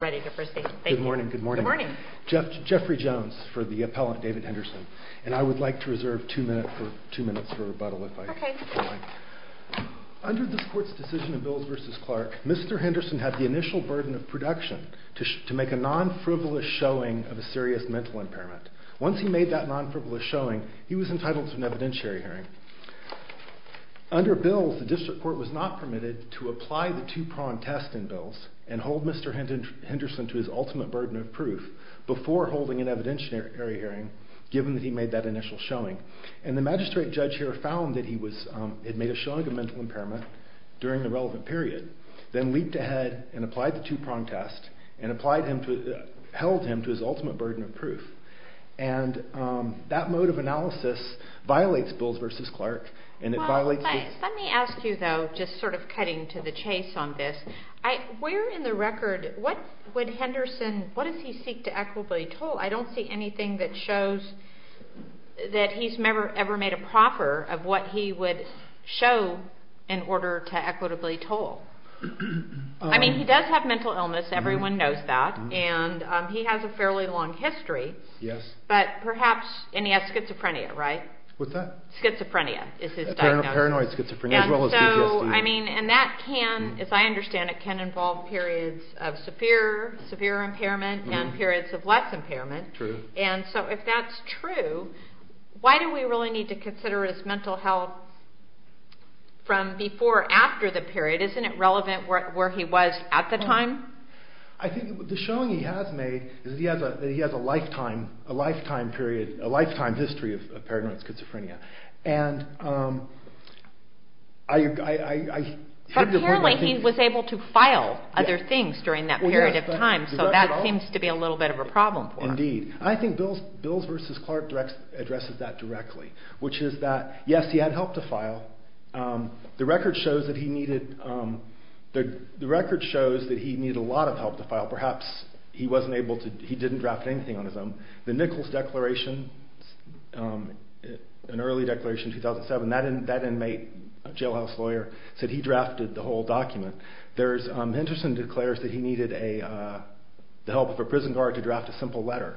Good morning, good morning. Jeffrey Jones for the appellant, David Henderson. And I would like to reserve two minutes for rebuttal if I can. Under this court's decision in Bills v. Clark, Mr. Henderson had the initial burden of production to make a non-frivolous showing of a serious mental impairment. Once he made that non-frivolous showing, he was entitled to an evidentiary hearing. Under Bills, the district court was not permitted to apply the two-prong test in Bills and hold Mr. Henderson to his ultimate burden of proof before holding an evidentiary hearing, given that he made that initial showing. And the magistrate judge here found that he had made a showing of a mental impairment during the relevant period, then leaped ahead and applied the two-prong test and held him to his ultimate burden of proof. And that mode of analysis violates Bills v. Clark. Let me ask you though, just sort of cutting to the chase on this, where in the record, what would Henderson, what does he seek to equitably toll? I don't see anything that shows that he's ever made a proffer of what he would show in order to equitably toll. I mean, he does have mental illness, everyone knows that, and he has a fairly long history, but perhaps, and he has schizophrenia, right? What's that? Schizophrenia is his diagnosis. Paranoid schizophrenia as well as PTSD. And that can, as I understand it, can involve periods of severe impairment and periods of less impairment. True. And so if that's true, why do we really need to consider his mental health from before after the period? Isn't it relevant where he was at the time? I think the showing he has made is that he has a lifetime period, a lifetime history of paranoid schizophrenia. And I heard the point that he... But apparently he was able to file other things during that period of time, so that seems to be a little bit of a problem for him. Indeed. I think Bills v. Clark addresses that directly, which is that, yes, he had help to file. The record shows that he needed a lot of help to file. Perhaps he didn't draft anything on his own. The Nichols Declaration, an early declaration in 2007, that inmate, a jailhouse lawyer, said he drafted the whole document. Henderson declares that he needed the help of a prison guard to draft a simple letter.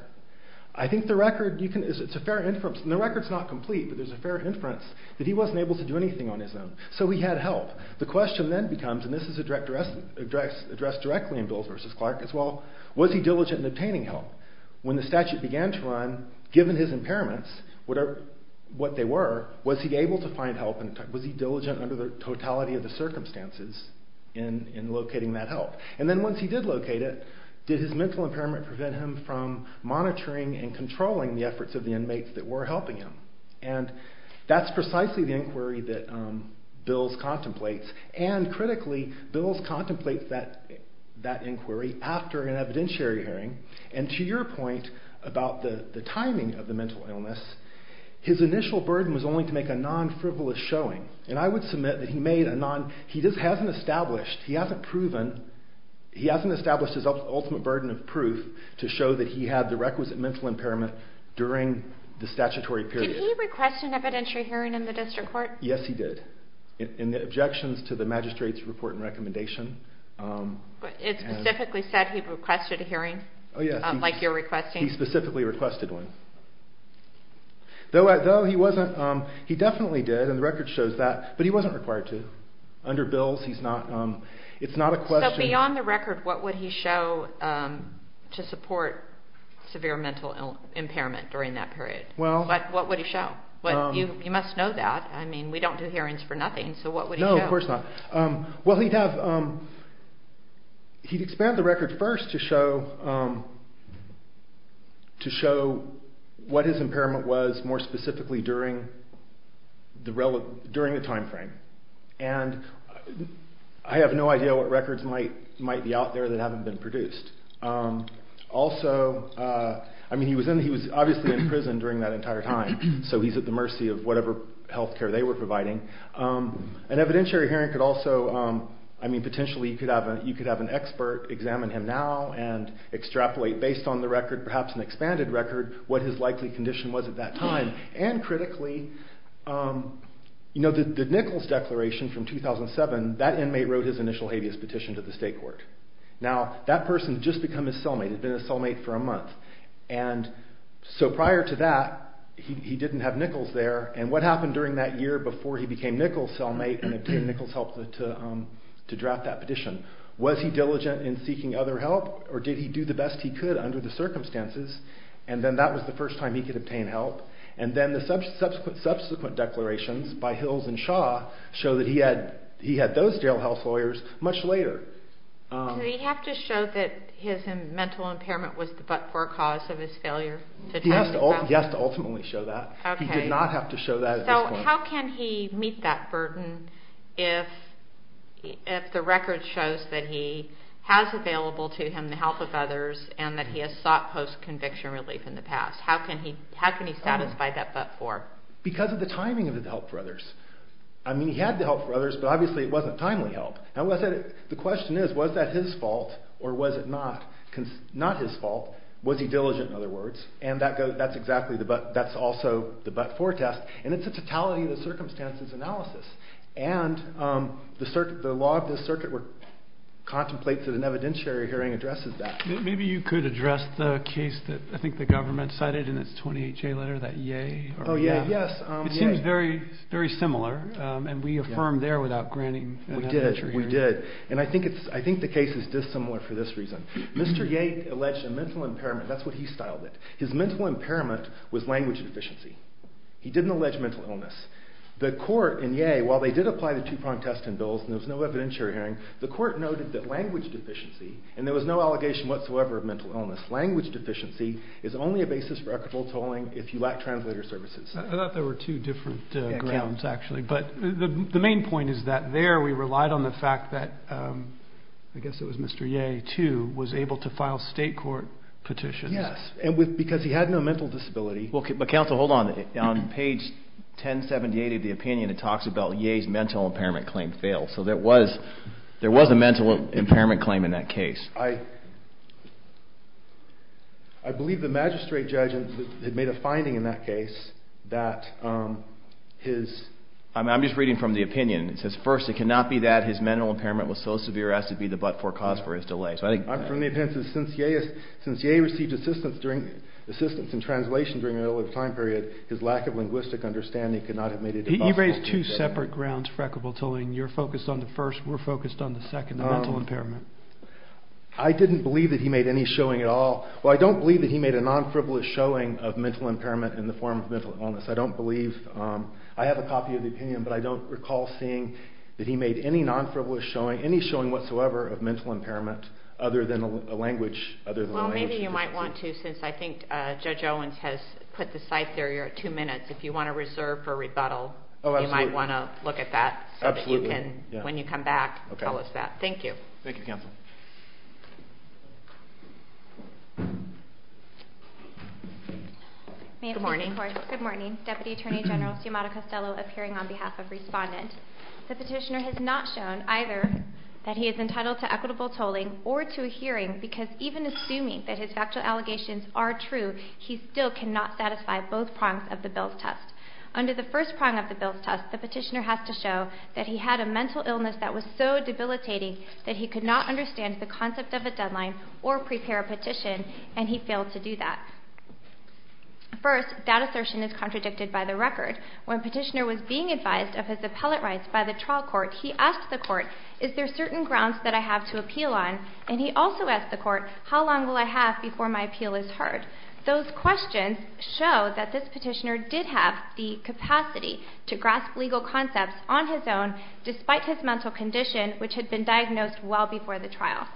I think the record, it's a fair inference, and the record's not complete, but there's a fair inference that he wasn't able to do anything on his own. So he had help. The question then becomes, and this is addressed directly in Bills v. Clark as well, was he diligent in obtaining help? When the statute began to run, given his impairments, what they were, was he able to find help? Was he diligent under the totality of the circumstances in locating that help? And then once he did locate it, did his mental impairment prevent him from monitoring and controlling the efforts of the inmates that were helping him? And that's precisely the inquiry that Bills contemplates, and critically, Bills contemplates that inquiry after an evidentiary hearing. And to your point about the timing of the mental illness, his initial burden was only to make a non-frivolous showing. And I would submit that he made a non, he just hasn't established, he hasn't proven, he hasn't established his ultimate burden of proof to show that he had the requisite mental impairment during the statutory period. Did he request an evidentiary hearing in the district court? Yes, he did. In the objections to the magistrate's report and recommendation. It specifically said he requested a hearing? Oh yes. Like you're requesting? He specifically requested one. Though he wasn't, he definitely did, and the record shows that, but he wasn't required to. Under Bills, he's not, it's not a question. So beyond the record, what would he show to support severe mental impairment during that period? Well. What would he show? You must know that. I mean, we don't do hearings for nothing, so what would he show? No, of course not. Well, he'd have, he'd expand the record first to show, to show what his impairment was more specifically during the time frame. And I have no idea what records might be out there that haven't been produced. Also, I mean, he was obviously in prison during that entire time, so he's at the mercy of whatever health care they were providing. An evidentiary hearing could also, I mean, potentially you could have an expert examine him now and extrapolate based on the record, perhaps an expanded record, what his likely condition was at that time. And critically, you know, the Nichols Declaration from 2007, that inmate wrote his initial habeas petition to the state court. Now, that person had just become his cellmate, had been his cellmate for a month. And so prior to that, he didn't have Nichols there. And what happened during that year before he became Nichols' cellmate and obtained Nichols' help to draft that petition? Was he diligent in seeking other help or did he do the best he could under the circumstances? And then that was the first time he could obtain help. And then the subsequent declarations by Hills and Shaw show that he had those jail health lawyers much later. Did he have to show that his mental impairment was the but-for cause of his failure? He has to ultimately show that. He did not have to show that at this point. So how can he meet that burden if the record shows that he has available to him the help of others and that he has sought post-conviction relief in the past? How can he satisfy that but-for? Because of the timing of his help for others. I mean, he had the help for others, but obviously it wasn't timely help. And the question is, was that his fault or was it not his fault? Was he diligent, in other words? And that's also the but-for test. And it's a totality of the circumstances analysis. And the law of this circuit contemplates that an evidentiary hearing addresses that. Maybe you could address the case that I think the government cited in its 28-J letter, that Ye? Oh, Ye, yes. It seems very similar, and we affirmed there without granting that entry. We did. We did. And I think the case is dissimilar for this reason. Mr. Ye alleged a mental impairment. That's what he styled it. His mental impairment was language deficiency. He didn't allege mental illness. The court in Ye, while they did apply the two prompt test and bills, and there was no evidentiary hearing, the court noted that language deficiency, and there was no allegation whatsoever of mental illness, language deficiency is only a basis for equitable tolling if you lack translator services. I thought there were two different grounds, actually. But the main point is that there we relied on the fact that I guess it was Mr. Ye, too, was able to file state court petitions. Yes, and because he had no mental disability. Well, Counsel, hold on. On page 1078 of the opinion, it talks about Ye's mental impairment claim failed. So there was a mental impairment claim in that case. I believe the magistrate judge had made a finding in that case that his – I'm just reading from the opinion. It says, first, it cannot be that his mental impairment was so severe as to be the but-for cause for his delay. I'm from the opinion that since Ye received assistance in translation during an early time period, his lack of linguistic understanding could not have made it possible. You raised two separate grounds for equitable tolling. You're focused on the first. We're focused on the second, the mental impairment. I didn't believe that he made any showing at all. Well, I don't believe that he made a non-frivolous showing of mental impairment in the form of mental illness. I don't believe – I have a copy of the opinion, but I don't recall seeing that he made any non-frivolous showing, any showing whatsoever of mental impairment other than a language. Well, maybe you might want to since I think Judge Owens has put the scythe there. You're at two minutes. If you want to reserve for rebuttal, you might want to look at that. Absolutely. When you come back, tell us that. Okay. Thank you. Thank you, Counsel. Good morning. Good morning. Deputy Attorney General Sciamatta-Costello appearing on behalf of Respondent. The petitioner has not shown either that he is entitled to equitable tolling or to a hearing because even assuming that his factual allegations are true, he still cannot satisfy both prongs of the Bill's test. Under the first prong of the Bill's test, the petitioner has to show that he had a mental illness that was so debilitating that he could not understand the concept of a deadline or prepare a petition, and he failed to do that. First, that assertion is contradicted by the record. When petitioner was being advised of his appellate rights by the trial court, he asked the court, is there certain grounds that I have to appeal on? And he also asked the court, how long will I have before my appeal is heard? Those questions show that this petitioner did have the capacity to grasp legal concepts on his own, despite his mental condition, which had been diagnosed well before the trial.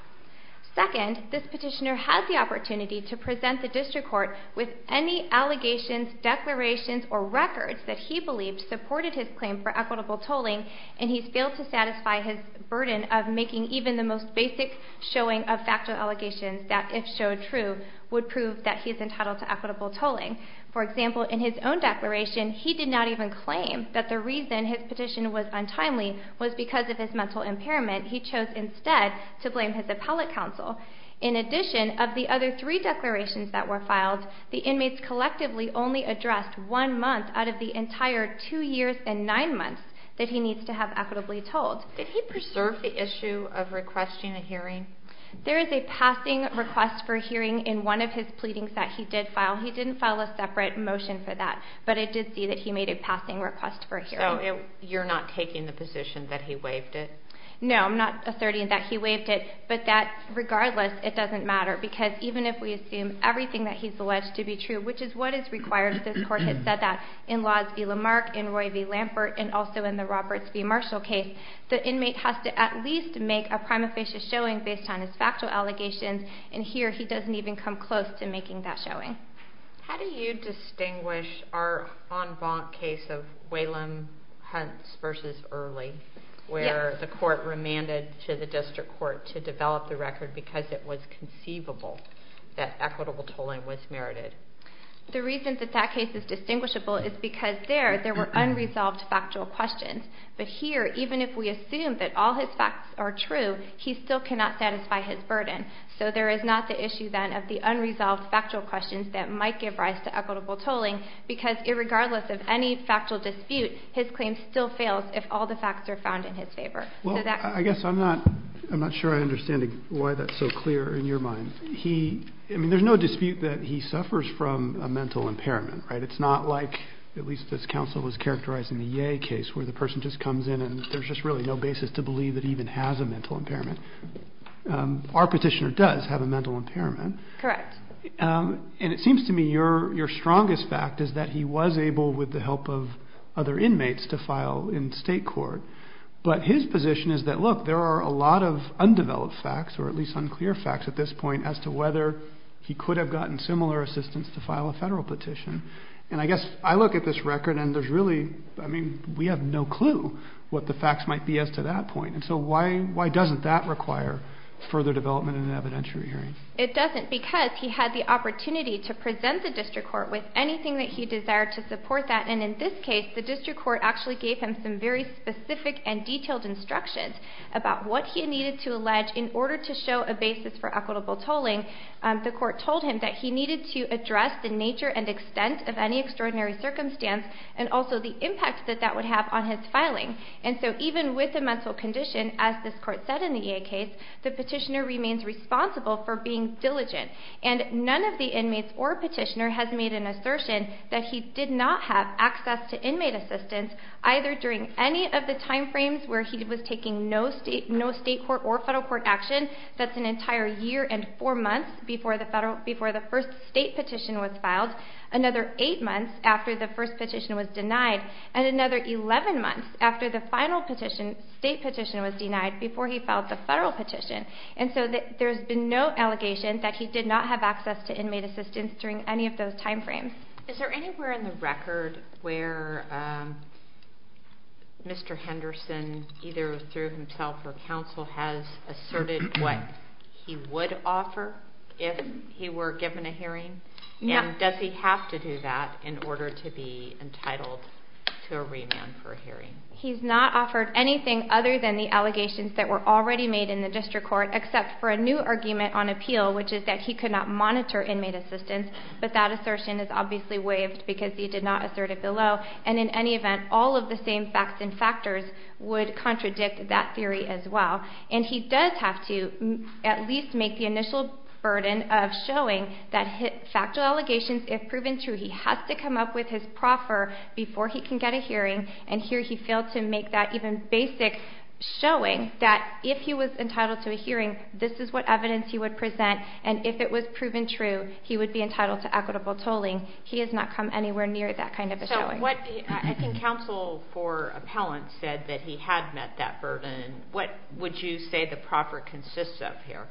Second, this petitioner had the opportunity to present the district court with any allegations, declarations, or records that he believed supported his claim for equitable tolling, and he failed to satisfy his burden of making even the most basic showing of factual allegations that, if showed true, would prove that he is entitled to equitable tolling. For example, in his own declaration, he did not even claim that the reason his petition was untimely was because of his mental impairment. He chose instead to blame his appellate counsel. In addition, of the other three declarations that were filed, the inmates collectively only addressed one month out of the entire two years and nine months that he needs to have equitably tolled. Did he preserve the issue of requesting a hearing? There is a passing request for a hearing in one of his pleadings that he did file. He didn't file a separate motion for that, but I did see that he made a passing request for a hearing. So you're not taking the position that he waived it? No, I'm not asserting that he waived it, but that, regardless, it doesn't matter, because even if we assume everything that he's alleged to be true, which is what is required since the court has said that in Laws v. Lamarck, in Roy v. Lampert, and also in the Roberts v. Marshall case, the inmate has to at least make a prima facie showing based on his factual allegations, and here he doesn't even come close to making that showing. How do you distinguish our en banc case of Whalum v. Early, where the court remanded to the district court to develop the record because it was conceivable that equitable tolling was merited? The reason that that case is distinguishable is because there, there were unresolved factual questions. But here, even if we assume that all his facts are true, he still cannot satisfy his burden. So there is not the issue, then, of the unresolved factual questions that might give rise to equitable tolling because, regardless of any factual dispute, his claim still fails if all the facts are found in his favor. Well, I guess I'm not sure I understand why that's so clear in your mind. I mean, there's no dispute that he suffers from a mental impairment, right? It's not like, at least as counsel was characterizing the Ye case, where the person just comes in and there's just really no basis to believe that he even has a mental impairment. Our petitioner does have a mental impairment. Correct. And it seems to me your strongest fact is that he was able, with the help of other inmates, to file in state court. But his position is that, look, there are a lot of undeveloped facts, or at least unclear facts at this point as to whether he could have gotten similar assistance to file a federal petition. And I guess I look at this record and there's really, I mean, we have no clue what the facts might be as to that point. And so why doesn't that require further development in an evidentiary hearing? It doesn't because he had the opportunity to present the district court with anything that he desired to support that. And in this case, the district court actually gave him some very specific and detailed instructions about what he needed to allege in order to show a basis for equitable tolling. The court told him that he needed to address the nature and extent of any extraordinary circumstance and also the impact that that would have on his filing. And so even with a mental condition, as this court said in the EA case, the petitioner remains responsible for being diligent. And none of the inmates or petitioner has made an assertion that he did not have access to inmate assistance, either during any of the time frames where he was taking no state court or federal court action, that's an entire year and four months before the first state petition was filed, another eight months after the first petition was denied, and another 11 months after the final state petition was denied before he filed the federal petition. And so there's been no allegation that he did not have access to inmate assistance during any of those time frames. Is there anywhere in the record where Mr. Henderson, either through himself or counsel, has asserted what he would offer if he were given a hearing? And does he have to do that in order to be entitled to a remand for a hearing? He's not offered anything other than the allegations that were already made in the district court except for a new argument on appeal, which is that he could not monitor inmate assistance, but that assertion is obviously waived because he did not assert it below. And in any event, all of the same facts and factors would contradict that theory as well. And he does have to at least make the initial burden of showing that factual allegations, if proven true, he has to come up with his proffer before he can get a hearing, and here he failed to make that even basic showing that if he was entitled to a hearing, this is what evidence he would present, and if it was proven true, he would be entitled to equitable tolling. He has not come anywhere near that kind of a showing. I think counsel for appellant said that he had met that burden. What would you say the proffer consists of here?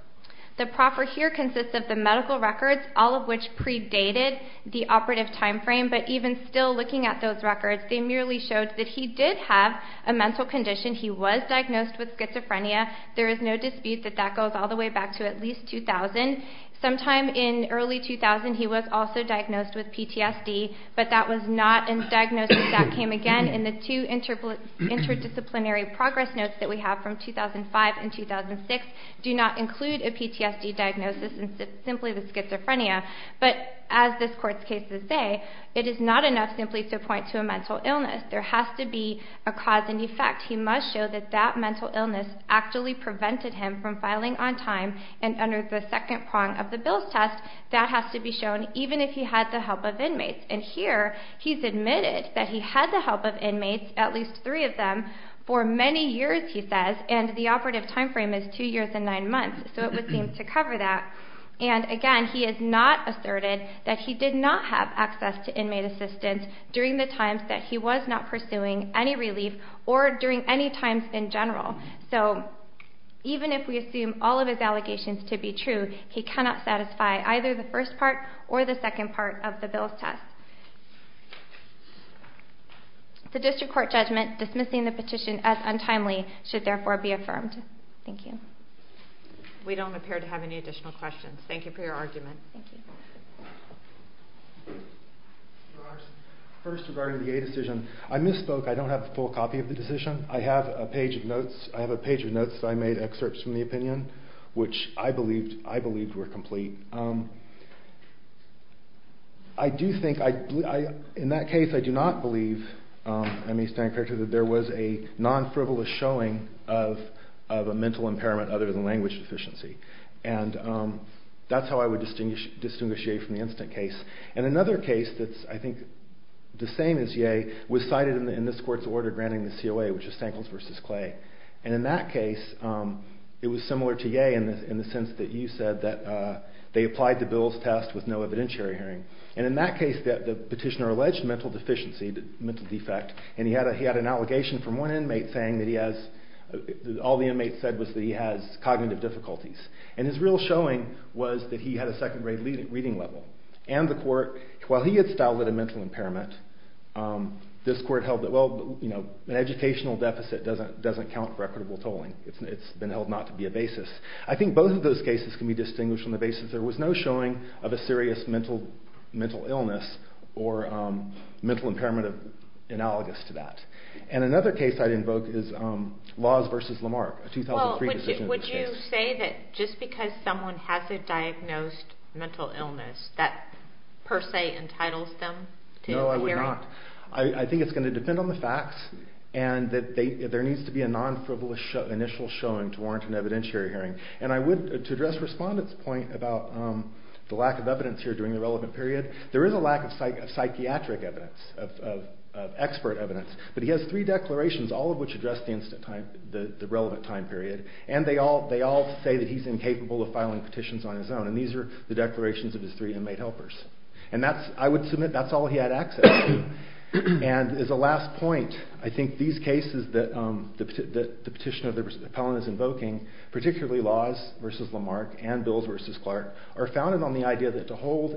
The proffer here consists of the medical records, all of which predated the operative time frame, but even still looking at those records, they merely showed that he did have a mental condition. He was diagnosed with schizophrenia. There is no dispute that that goes all the way back to at least 2000. Sometime in early 2000, he was also diagnosed with PTSD, but that was not a diagnosis that came again in the two interdisciplinary progress notes that we have from 2005 and 2006 do not include a PTSD diagnosis and simply the schizophrenia. But as this Court's cases say, it is not enough simply to point to a mental illness. There has to be a cause and effect. He must show that that mental illness actually prevented him from filing on time, and under the second prong of the Bill's test, that has to be shown even if he had the help of inmates. And here he's admitted that he had the help of inmates, at least three of them, for many years, he says, and the operative time frame is two years and nine months, so it would seem to cover that. And again, he has not asserted that he did not have access to inmate assistance during the times that he was not pursuing any relief or during any times in general. So even if we assume all of his allegations to be true, he cannot satisfy either the first part or the second part of the Bill's test. The District Court judgment dismissing the petition as untimely should therefore be affirmed. Thank you. We don't appear to have any additional questions. Thank you for your argument. Thank you. First, regarding the A decision, I misspoke. I don't have a full copy of the decision. I have a page of notes. I have a page of notes that I made, excerpts from the opinion, which I believed were complete. I do think, in that case, I do not believe, I may stand corrected, that there was a non-frivolous showing of a mental impairment other than language deficiency, and that's how I would distinguish A from the instant case. And another case that's, I think, the same as Ye, was cited in this court's order granting the COA, which is Stankles v. Clay. And in that case, it was similar to Ye in the sense that you said that they applied the Bill's test with no evidentiary hearing. And in that case, the petitioner alleged mental deficiency, mental defect, and he had an allegation from one inmate saying that he has, all the inmates said was that he has cognitive difficulties. And his real showing was that he had a second grade reading level and the court, while he had styled it a mental impairment, this court held that, well, an educational deficit doesn't count for equitable tolling. It's been held not to be a basis. I think both of those cases can be distinguished on the basis there was no showing of a serious mental illness or mental impairment analogous to that. And another case I'd invoke is Laws v. Lamarck, a 2003 decision. Would you say that just because someone has a diagnosed mental illness, that per se entitles them to a hearing? No, I would not. I think it's going to depend on the facts and that there needs to be a non-frivolous initial showing to warrant an evidentiary hearing. And I would, to address Respondent's point about the lack of evidence here during the relevant period, there is a lack of psychiatric evidence, of expert evidence. But he has three declarations, all of which address the relevant time period. And they all say that he's incapable of filing petitions on his own. And these are the declarations of his three inmate helpers. And I would submit that's all he had access to. And as a last point, I think these cases that the petitioner of the appellant is invoking, particularly Laws v. Lamarck and Bills v. Clark, are founded on the idea that to hold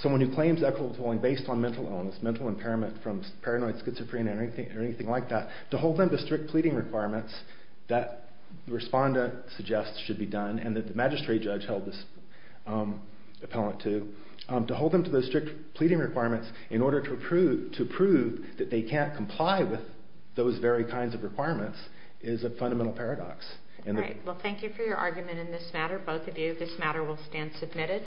someone who claims equitable tolling based on mental illness, mental impairment from paranoid schizophrenia or anything like that, to hold them to strict pleading requirements that Respondent suggests should be done and that the magistrate judge held this appellant to, to hold them to those strict pleading requirements in order to prove that they can't comply with those very kinds of requirements is a fundamental paradox. Great. Well, thank you for your argument in this matter. Both of you, this matter will stand submitted.